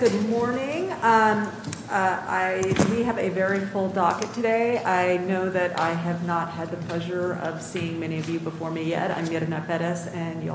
Good morning. I we have a very full docket today. I know that I have not had the pleasure of seeing many of you before me yet. I'm getting that better. You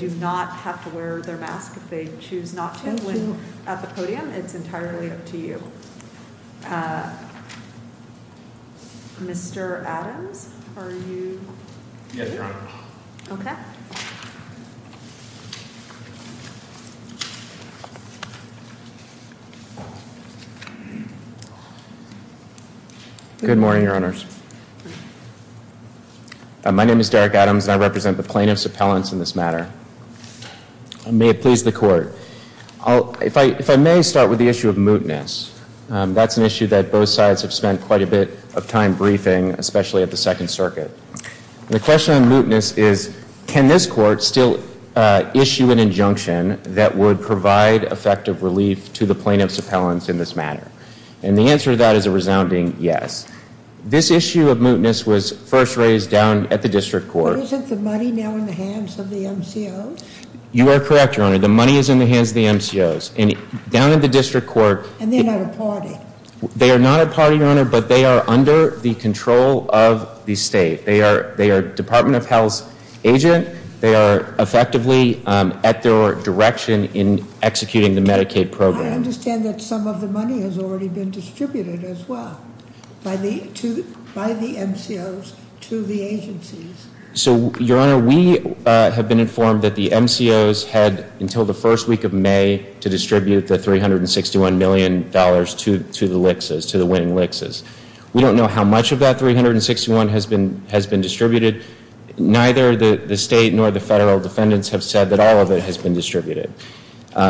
do not have to wear their mask. They choose not to win at the podium. It's entirely up to you. Mr Adams. Are you? Good morning, Your Honors. My name is Derek Adams. I represent the plaintiffs appellants in this matter. May it please the court. If I may start with the issue of mootness. That's an issue that both sides have spent quite a bit of time briefing, especially at the Second Circuit. The question on mootness is, can this court still issue an injunction that would provide effective relief to the plaintiffs appellants in this matter? And the answer to that is a resounding yes. This issue of mootness was first raised down at the district court. But isn't the money now in the hands of the MCOs? You are correct, Your Honor. The money is in the hands of the MCOs. Down at the district court. And they're not a party. They are not a party, Your Honor, but they are under the control of the state. They are Department of Health's agent. They are effectively at their direction in executing the Medicaid program. I understand that some of the money has already been distributed as well by the MCOs to the agencies. So, Your Honor, we have been informed that the MCOs had until the first week of May to distribute the $361 million to the LICSs, to the winning LICSs. We don't know how much of that $361 million has been distributed. Neither the state nor the federal defendants have said that all of it has been distributed.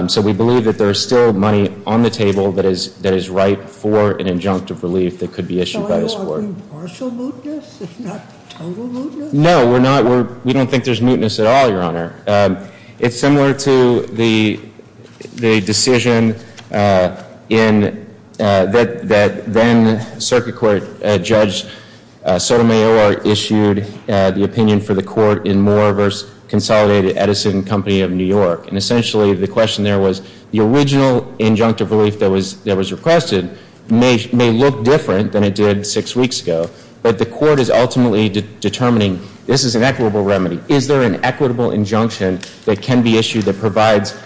So we believe that there is still money on the table that is ripe for an injunctive relief that could be issued by this court. So are we partial mootness? Not total mootness? No, we're not. We don't think there's mootness at all, Your Honor. It's similar to the decision that then-Circuit Court Judge Sotomayor issued the opinion for the court in Moore v. Consolidated Edison Company of New York. And essentially the question there was the original injunctive relief that was requested may look different than it did six weeks ago. But the court is ultimately determining this is an equitable remedy. Is there an equitable injunction that can be issued that provides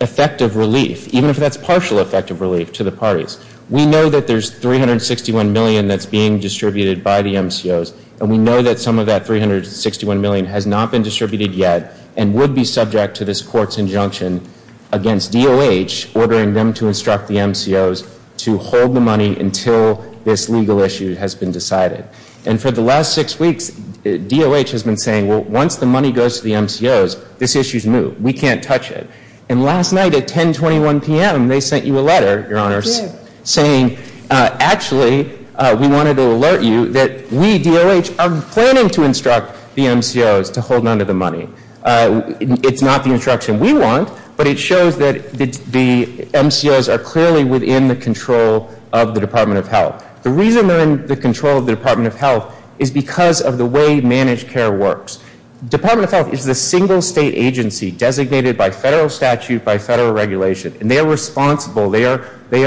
effective relief, even if that's partial effective relief, to the parties? We know that there's $361 million that's being distributed by the MCOs. And we know that some of that $361 million has not been distributed yet and would be subject to this court's injunction against DOH ordering them to instruct the MCOs to hold the money until this legal issue has been decided. And for the last six weeks, DOH has been saying, well, once the money goes to the MCOs, this issue's moot. We can't touch it. And last night at 1021 p.m., they sent you a letter, Your Honors, saying, actually, we wanted to alert you that we, DOH, are planning to instruct the MCOs to hold on to the money. It's not the instruction we want, but it shows that the MCOs are clearly within the control of the Department of Health. The reason they're in the control of the Department of Health is because of the way managed care works. Department of Health is the single state agency designated by federal statute, by federal regulation. And they are responsible. They are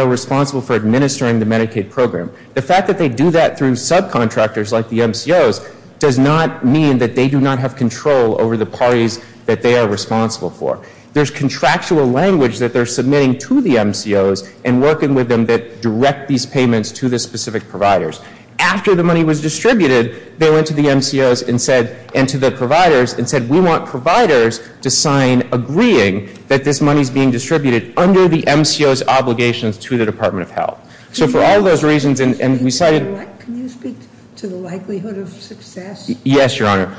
responsible for administering the Medicaid program. The fact that they do that through subcontractors like the MCOs does not mean that they do not have control over the parties that they are responsible for. There's contractual language that they're submitting to the MCOs and working with them that direct these payments to the specific providers. After the money was distributed, they went to the MCOs and said, and to the providers, and said, we want providers to sign agreeing that this money's being distributed under the MCOs' obligations to the Department of Health. So for all those reasons, and we cited- Can you speak to the likelihood of success? Yes, Your Honor.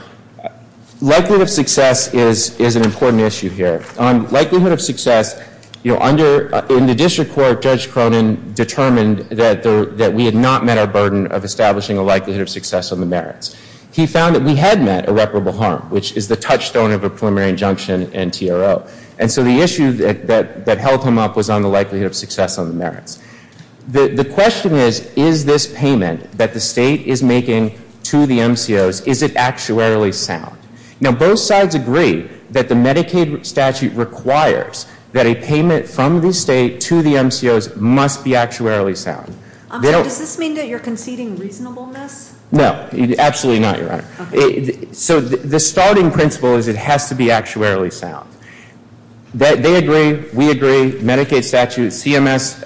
Likelihood of success is an important issue here. Likelihood of success, you know, in the district court, Judge Cronin determined that we had not met our burden of establishing a likelihood of success on the merits. He found that we had met irreparable harm, which is the touchstone of a preliminary injunction and TRO. And so the issue that held him up was on the likelihood of success on the merits. The question is, is this payment that the state is making to the MCOs, is it actuarially sound? Now, both sides agree that the Medicaid statute requires that a payment from the state to the MCOs must be actuarially sound. Does this mean that you're conceding reasonableness? No, absolutely not, Your Honor. So the starting principle is it has to be actuarially sound. They agree, we agree, Medicaid statute, CMS,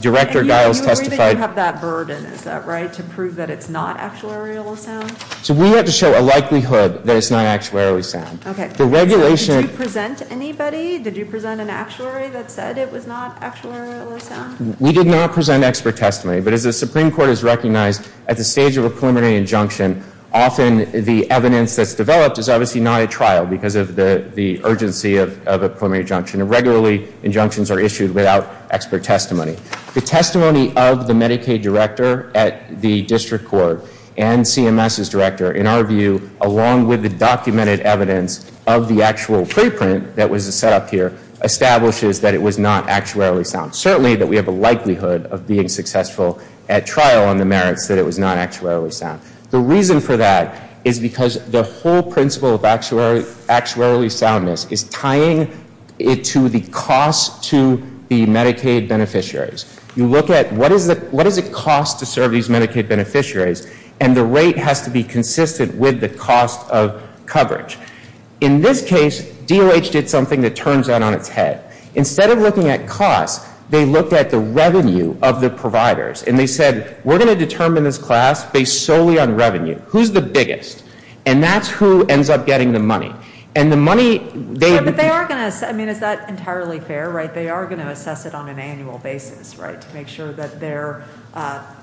Director Giles testified- And you agree that you have that burden, is that right, to prove that it's not actuarially sound? So we have to show a likelihood that it's not actuarially sound. Okay. The regulation- Did you present anybody? Did you present an actuary that said it was not actuarially sound? We did not present expert testimony. But as the Supreme Court has recognized, at the stage of a preliminary injunction, often the evidence that's developed is obviously not at trial because of the urgency of a preliminary injunction. And regularly, injunctions are issued without expert testimony. The testimony of the Medicaid director at the district court and CMS's director, in our view, along with the documented evidence of the actual preprint that was set up here, establishes that it was not actuarially sound. Certainly that we have a likelihood of being successful at trial on the merits that it was not actuarially sound. The reason for that is because the whole principle of actuarially soundness is tying it to the cost to the Medicaid beneficiary. You look at what does it cost to serve these Medicaid beneficiaries, and the rate has to be consistent with the cost of coverage. In this case, DOH did something that turns that on its head. Instead of looking at cost, they looked at the revenue of the providers, and they said, we're going to determine this class based solely on revenue. Who's the biggest? And that's who ends up getting the money. And the money- But they are going to- I mean, is that entirely fair, right? They are going to assess it on an annual basis, right, to make sure that their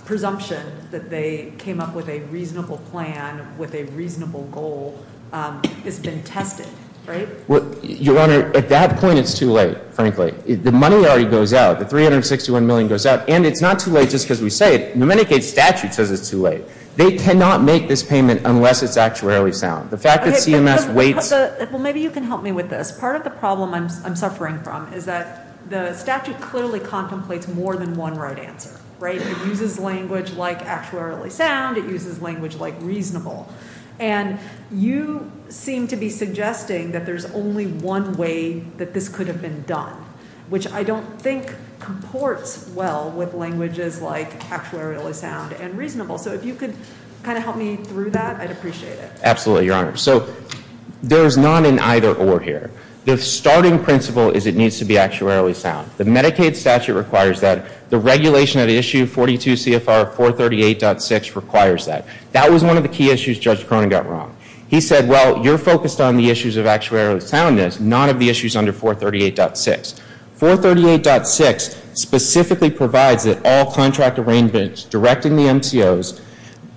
presumption that they came up with a reasonable plan with a reasonable goal has been tested, right? Your Honor, at that point, it's too late, frankly. The money already goes out. The $361 million goes out, and it's not too late just because we say it. The Medicaid statute says it's too late. They cannot make this payment unless it's actuarially sound. The fact that CMS waits- Well, maybe you can help me with this. Because part of the problem I'm suffering from is that the statute clearly contemplates more than one right answer, right? It uses language like actuarially sound. It uses language like reasonable. And you seem to be suggesting that there's only one way that this could have been done, which I don't think comports well with languages like actuarially sound and reasonable. So if you could kind of help me through that, I'd appreciate it. Absolutely, Your Honor. So there's not an either or here. The starting principle is it needs to be actuarially sound. The Medicaid statute requires that. The regulation at issue 42 CFR 438.6 requires that. That was one of the key issues Judge Cronin got wrong. He said, well, you're focused on the issues of actuarially soundness, none of the issues under 438.6. 438.6 specifically provides that all contract arrangements directing the MCOs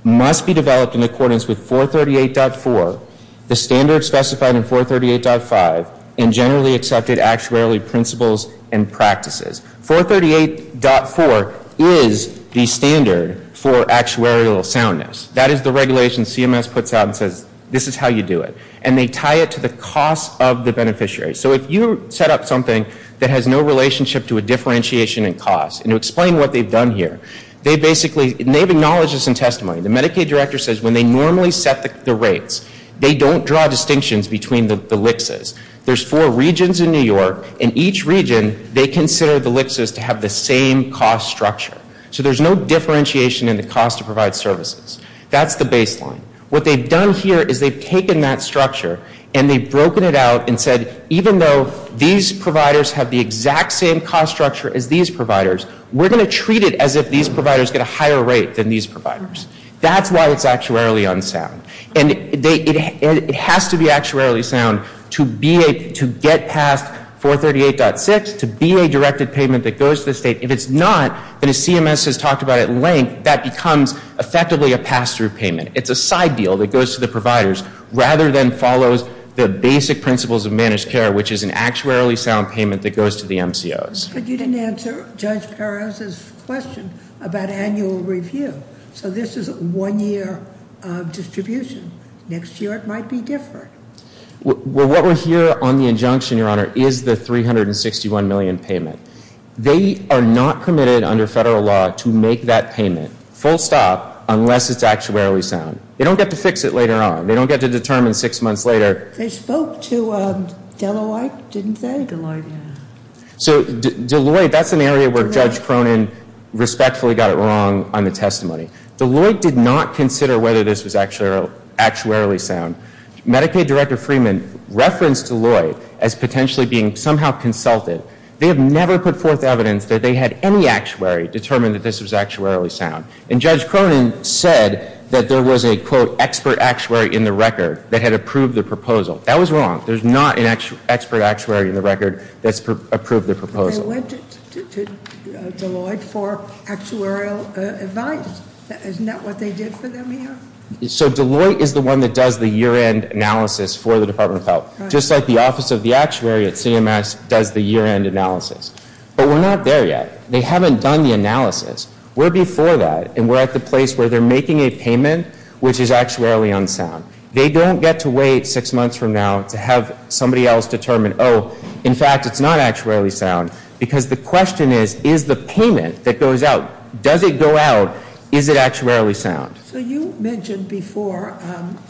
must be developed in accordance with 438.4, the standards specified in 438.5, and generally accepted actuarially principles and practices. 438.4 is the standard for actuarial soundness. That is the regulation CMS puts out and says, this is how you do it. And they tie it to the cost of the beneficiary. So if you set up something that has no relationship to a differentiation in cost, and to explain what they've done here, they basically have acknowledged this in testimony. The Medicaid director says when they normally set the rates, they don't draw distinctions between the LICSs. There's four regions in New York. In each region, they consider the LICSs to have the same cost structure. So there's no differentiation in the cost to provide services. That's the baseline. What they've done here is they've taken that structure and they've broken it out and said, even though these providers have the exact same cost structure as these providers, we're going to treat it as if these providers get a higher rate than these providers. That's why it's actuarially unsound. And it has to be actuarially sound to get past 438.6, to be a directed payment that goes to the state. If it's not, and as CMS has talked about at length, that becomes effectively a pass-through payment. It's a side deal that goes to the providers rather than follows the basic principles of managed care, which is an actuarially sound payment that goes to the MCOs. But you didn't answer Judge Perez's question about annual review. So this is a one-year distribution. Next year it might be different. Well, what we're here on the injunction, Your Honor, is the 361 million payment. They are not committed under federal law to make that payment, full stop, unless it's actuarially sound. They don't get to fix it later on. They don't get to determine six months later. They spoke to Deloitte, didn't they? Deloitte, yeah. So Deloitte, that's an area where Judge Cronin respectfully got it wrong on the testimony. Deloitte did not consider whether this was actuarially sound. Medicaid Director Freeman referenced Deloitte as potentially being somehow consulted. They have never put forth evidence that they had any actuary determine that this was actuarially sound. And Judge Cronin said that there was a, quote, expert actuary in the record that had approved the proposal. That was wrong. There's not an expert actuary in the record that's approved the proposal. They went to Deloitte for actuarial advice. Isn't that what they did for them here? So Deloitte is the one that does the year-end analysis for the Department of Health. Just like the Office of the Actuary at CMS does the year-end analysis. But we're not there yet. They haven't done the analysis. We're before that, and we're at the place where they're making a payment which is actuarially unsound. They don't get to wait six months from now to have somebody else determine, oh, in fact, it's not actuarially sound. Because the question is, is the payment that goes out, does it go out? Is it actuarially sound? So you mentioned before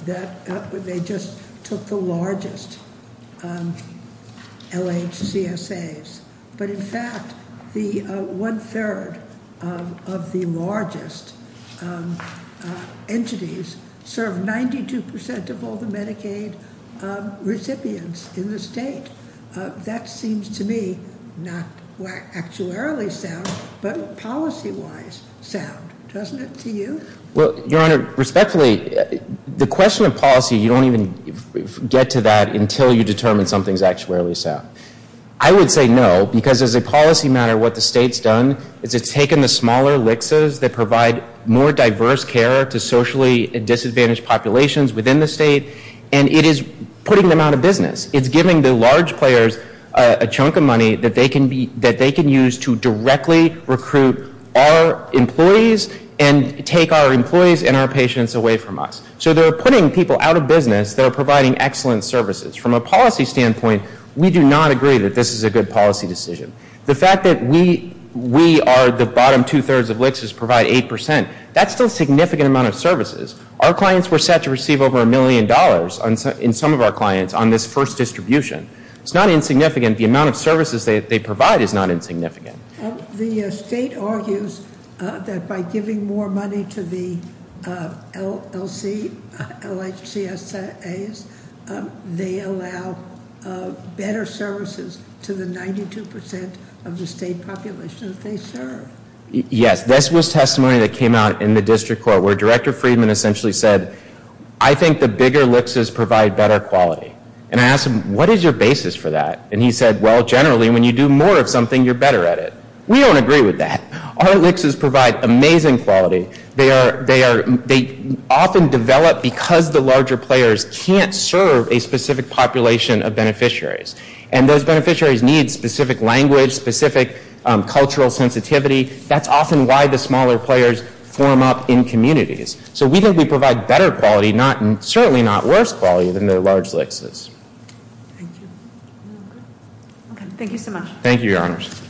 that they just took the largest LHCSAs. But, in fact, one-third of the largest entities serve 92% of all the Medicaid recipients in the state. That seems to me not actuarially sound, but policy-wise sound. Doesn't it to you? Well, Your Honor, respectfully, the question of policy, you don't even get to that until you determine something is actuarially sound. I would say no, because as a policy matter, what the state's done is it's taken the smaller LHCSAs that provide more diverse care to socially disadvantaged populations within the state, and it is putting them out of business. It's giving the large players a chunk of money that they can use to directly recruit our employees and take our employees and our patients away from us. So they're putting people out of business that are providing excellent services. From a policy standpoint, we do not agree that this is a good policy decision. The fact that we are the bottom two-thirds of LHCSAs provide 8%, that's still a significant amount of services. Our clients were set to receive over a million dollars in some of our clients on this first distribution. It's not insignificant. The amount of services they provide is not insignificant. The state argues that by giving more money to the LHCSAs, they allow better services to the 92% of the state population that they serve. Yes, this was testimony that came out in the district court where Director Friedman essentially said, I think the bigger LHCSAs provide better quality. And I asked him, what is your basis for that? And he said, well, generally when you do more of something, you're better at it. We don't agree with that. Our LHCSAs provide amazing quality. They often develop because the larger players can't serve a specific population of beneficiaries. And those beneficiaries need specific language, specific cultural sensitivity. That's often why the smaller players form up in communities. So we think we provide better quality, certainly not worse quality than the large LHCSAs. Thank you. Okay, thank you so much. Thank you, Your Honors.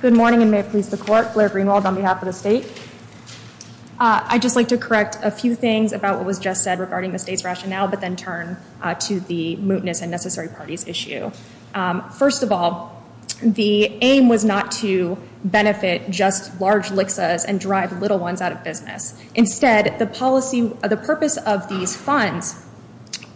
Good morning, and may it please the Court. Blair Greenwald on behalf of the state. I'd just like to correct a few things about what was just said regarding the state's rationale, but then turn to the mootness and necessary parties issue. First of all, the aim was not to benefit just large LHCSAs and drive little ones out of business. Instead, the purpose of these funds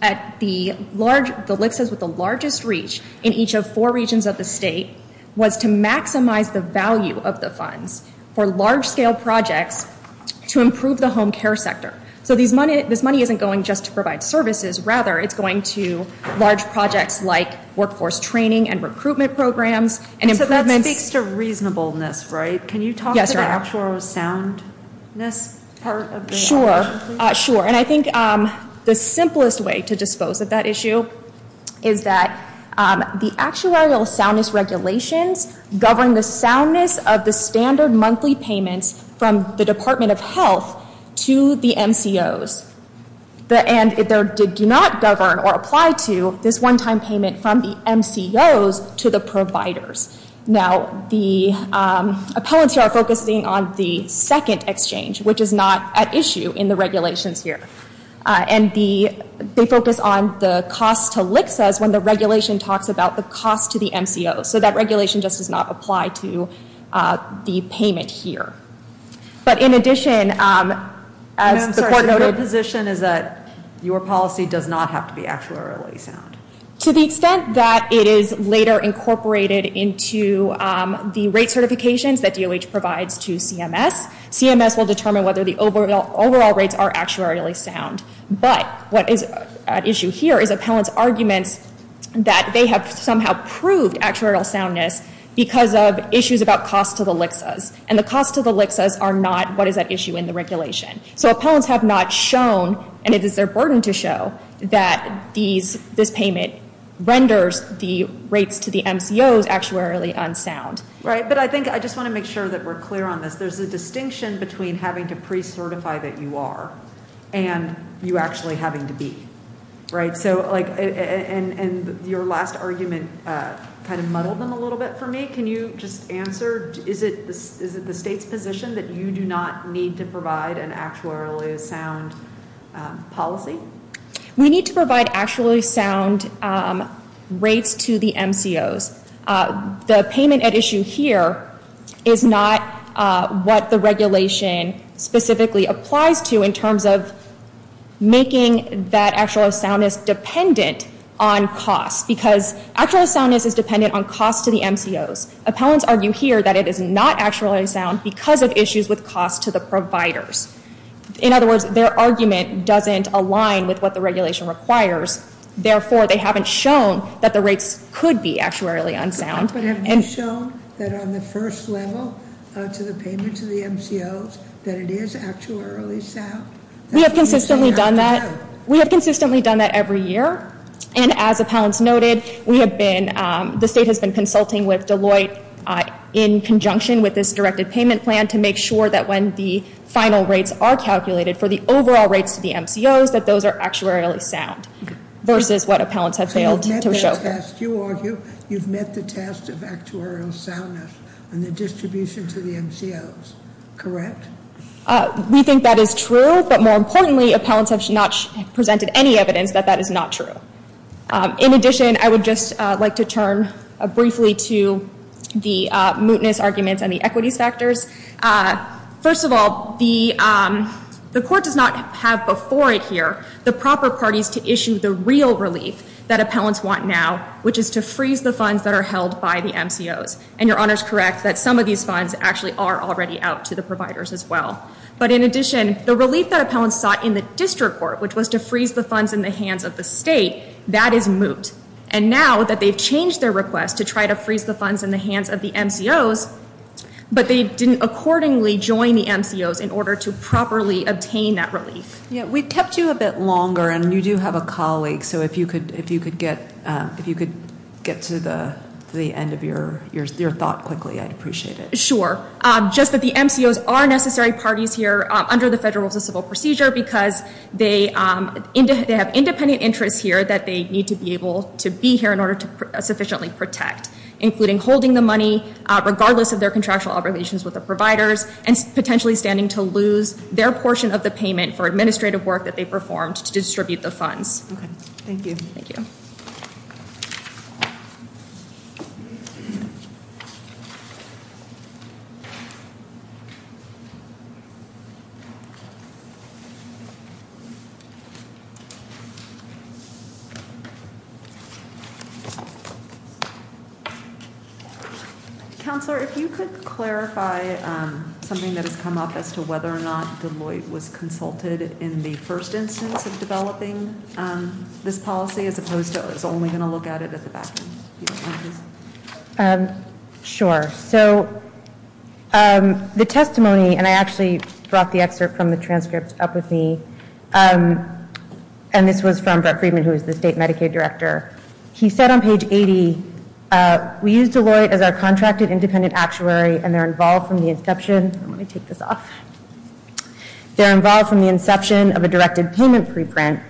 at the LHCSAs with the largest reach in each of four regions of the state was to maximize the value of the funds for large-scale projects to improve the home care sector. So this money isn't going just to provide services. Rather, it's going to large projects like workforce training and recruitment programs and improvements. So that speaks to reasonableness, right? Yes, Your Honor. Can you talk about the actuarial soundness part of the action, please? Sure. And I think the simplest way to dispose of that issue is that the actuarial soundness regulations govern the soundness of the standard monthly payments from the Department of Health to the MCOs. And they do not govern or apply to this one-time payment from the MCOs to the providers. Now, the appellants here are focusing on the second exchange, which is not at issue in the regulations here. And they focus on the cost to LHCSAs when the regulation talks about the cost to the MCOs. So that regulation just does not apply to the payment here. But in addition, as the court noted— No, I'm sorry. So your position is that your policy does not have to be actuarially sound? To the extent that it is later incorporated into the rate certifications that DOH provides to CMS, CMS will determine whether the overall rates are actuarially sound. But what is at issue here is appellants' arguments that they have somehow proved actuarial soundness because of issues about cost to the LHCSAs. And the cost to the LHCSAs are not what is at issue in the regulation. So appellants have not shown, and it is their burden to show, that this payment renders the rates to the MCOs actuarially unsound. Right. But I think I just want to make sure that we're clear on this. There's a distinction between having to pre-certify that you are and you actually having to be. Right? And your last argument kind of muddled them a little bit for me. Is it the state's position that you do not need to provide an actuarially sound policy? We need to provide actuarially sound rates to the MCOs. The payment at issue here is not what the regulation specifically applies to in terms of making that actuarially soundness dependent on cost. Because actuarial soundness is dependent on cost to the MCOs. Appellants argue here that it is not actuarially sound because of issues with cost to the providers. In other words, their argument doesn't align with what the regulation requires. Therefore, they haven't shown that the rates could be actuarially unsound. But have you shown that on the first level to the payment to the MCOs that it is actuarially sound? We have consistently done that. We have consistently done that every year. And as appellants noted, the state has been consulting with Deloitte in conjunction with this directed payment plan to make sure that when the final rates are calculated for the overall rates to the MCOs that those are actuarially sound versus what appellants have failed to show. You argue you've met the test of actuarial soundness and the distribution to the MCOs, correct? We think that is true. But more importantly, appellants have not presented any evidence that that is not true. In addition, I would just like to turn briefly to the mootness arguments and the equities factors. First of all, the court does not have before it here the proper parties to issue the real relief that appellants want now, which is to freeze the funds that are held by the MCOs. And Your Honor is correct that some of these funds actually are already out to the providers as well. But in addition, the relief that appellants sought in the district court, which was to freeze the funds in the hands of the state, that is moot. And now that they've changed their request to try to freeze the funds in the hands of the MCOs, but they didn't accordingly join the MCOs in order to properly obtain that relief. We kept you a bit longer, and you do have a colleague. So if you could get to the end of your thought quickly, I'd appreciate it. Sure. Just that the MCOs are necessary parties here under the Federal Rules of Civil Procedure because they have independent interests here that they need to be able to be here in order to sufficiently protect, including holding the money regardless of their contractual obligations with the providers and potentially standing to lose their portion of the payment for administrative work that they performed to distribute the funds. Thank you. Thank you. Thank you. Counselor, if you could clarify something that has come up as to whether or not Deloitte was consulted in the first instance of developing this policy, as opposed to it's only going to look at it at the back end. Sure. So the testimony, and I actually brought the excerpt from the transcript up with me, and this was from Brett Friedman, who is the state Medicaid director. He said on page 80, we use Deloitte as our contracted independent actuary, and they're involved from the inception. Let me take this off. They're involved from the inception of a directed payment preprint.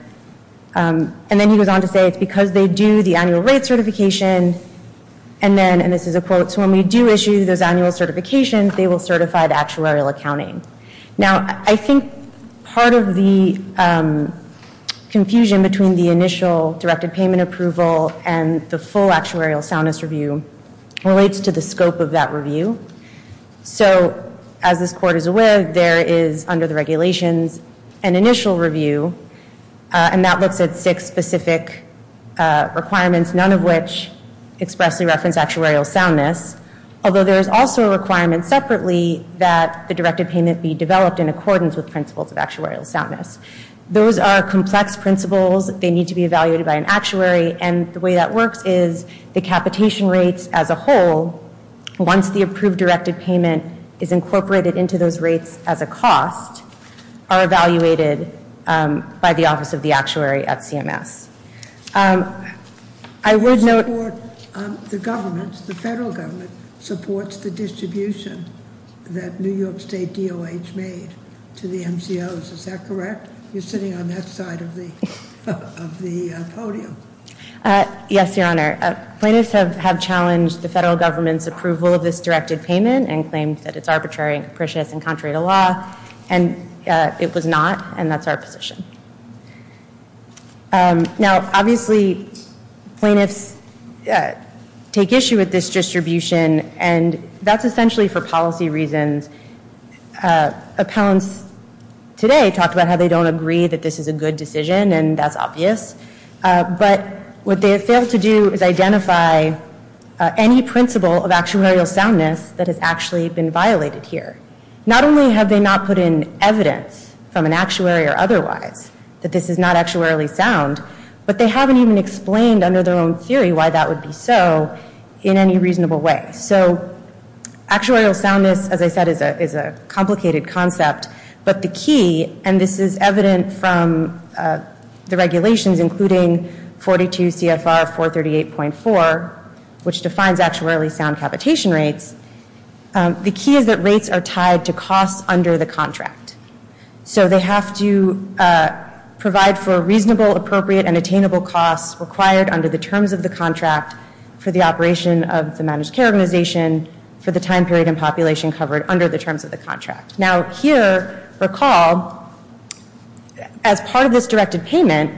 And then he goes on to say it's because they do the annual rate certification, and then, and this is a quote, so when we do issue those annual certifications, they will certify the actuarial accounting. Now, I think part of the confusion between the initial directed payment approval and the full actuarial soundness review relates to the scope of that review. So as this court is aware, there is under the regulations an initial review, and that looks at six specific requirements, none of which expressly reference actuarial soundness, although there is also a requirement separately that the directed payment be developed in accordance with principles of actuarial soundness. Those are complex principles. They need to be evaluated by an actuary, and the way that works is the capitation rates as a whole, once the approved directed payment is incorporated into those rates as a cost, are evaluated by the Office of the Actuary at CMS. I would note the government, the federal government, supports the distribution that New York State DOH made to the MCOs. Is that correct? You're sitting on that side of the podium. Yes, Your Honor. Plaintiffs have challenged the federal government's approval of this directed payment and claimed that it's arbitrary and capricious and contrary to law, and it was not, and that's our position. Now, obviously, plaintiffs take issue with this distribution, and that's essentially for policy reasons. Appellants today talked about how they don't agree that this is a good decision, and that's obvious, but what they have failed to do is identify any principle of actuarial soundness that has actually been violated here. Not only have they not put in evidence from an actuary or otherwise that this is not actuarially sound, but they haven't even explained under their own theory why that would be so in any reasonable way. So actuarial soundness, as I said, is a complicated concept, but the key, and this is evident from the regulations including 42 CFR 438.4, which defines actuarially sound capitation rates, the key is that rates are tied to costs under the contract. So they have to provide for reasonable, appropriate, and attainable costs required under the terms of the contract for the operation of the managed care organization for the time period and population covered under the terms of the contract. Now, here, recall, as part of this directed payment,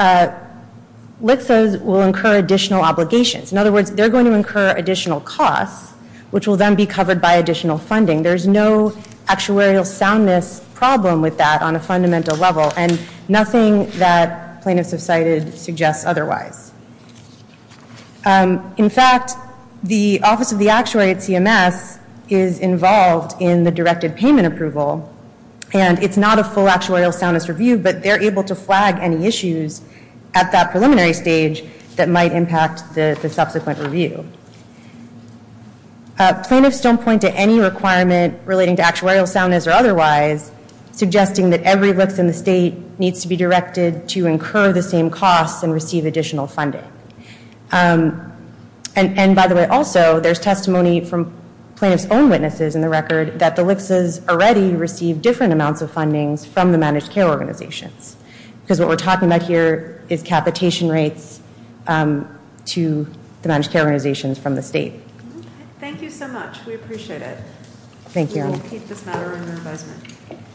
LTSAs will incur additional obligations. In other words, they're going to incur additional costs, which will then be covered by additional funding. There's no actuarial soundness problem with that on a fundamental level, and nothing that plaintiffs have cited suggests otherwise. In fact, the Office of the Actuary at CMS is involved in the directed payment approval, and it's not a full actuarial soundness review, but they're able to flag any issues at that preliminary stage that might impact the subsequent review. Plaintiffs don't point to any requirement relating to actuarial soundness or otherwise, suggesting that every LTSA in the state needs to be directed to incur the same costs and receive additional funding. And by the way, also, there's testimony from plaintiffs' own witnesses in the record that the LTSAs already receive different amounts of funding from the managed care organizations, because what we're talking about here is capitation rates to the managed care organizations from the state. Thank you so much. We appreciate it. Thank you.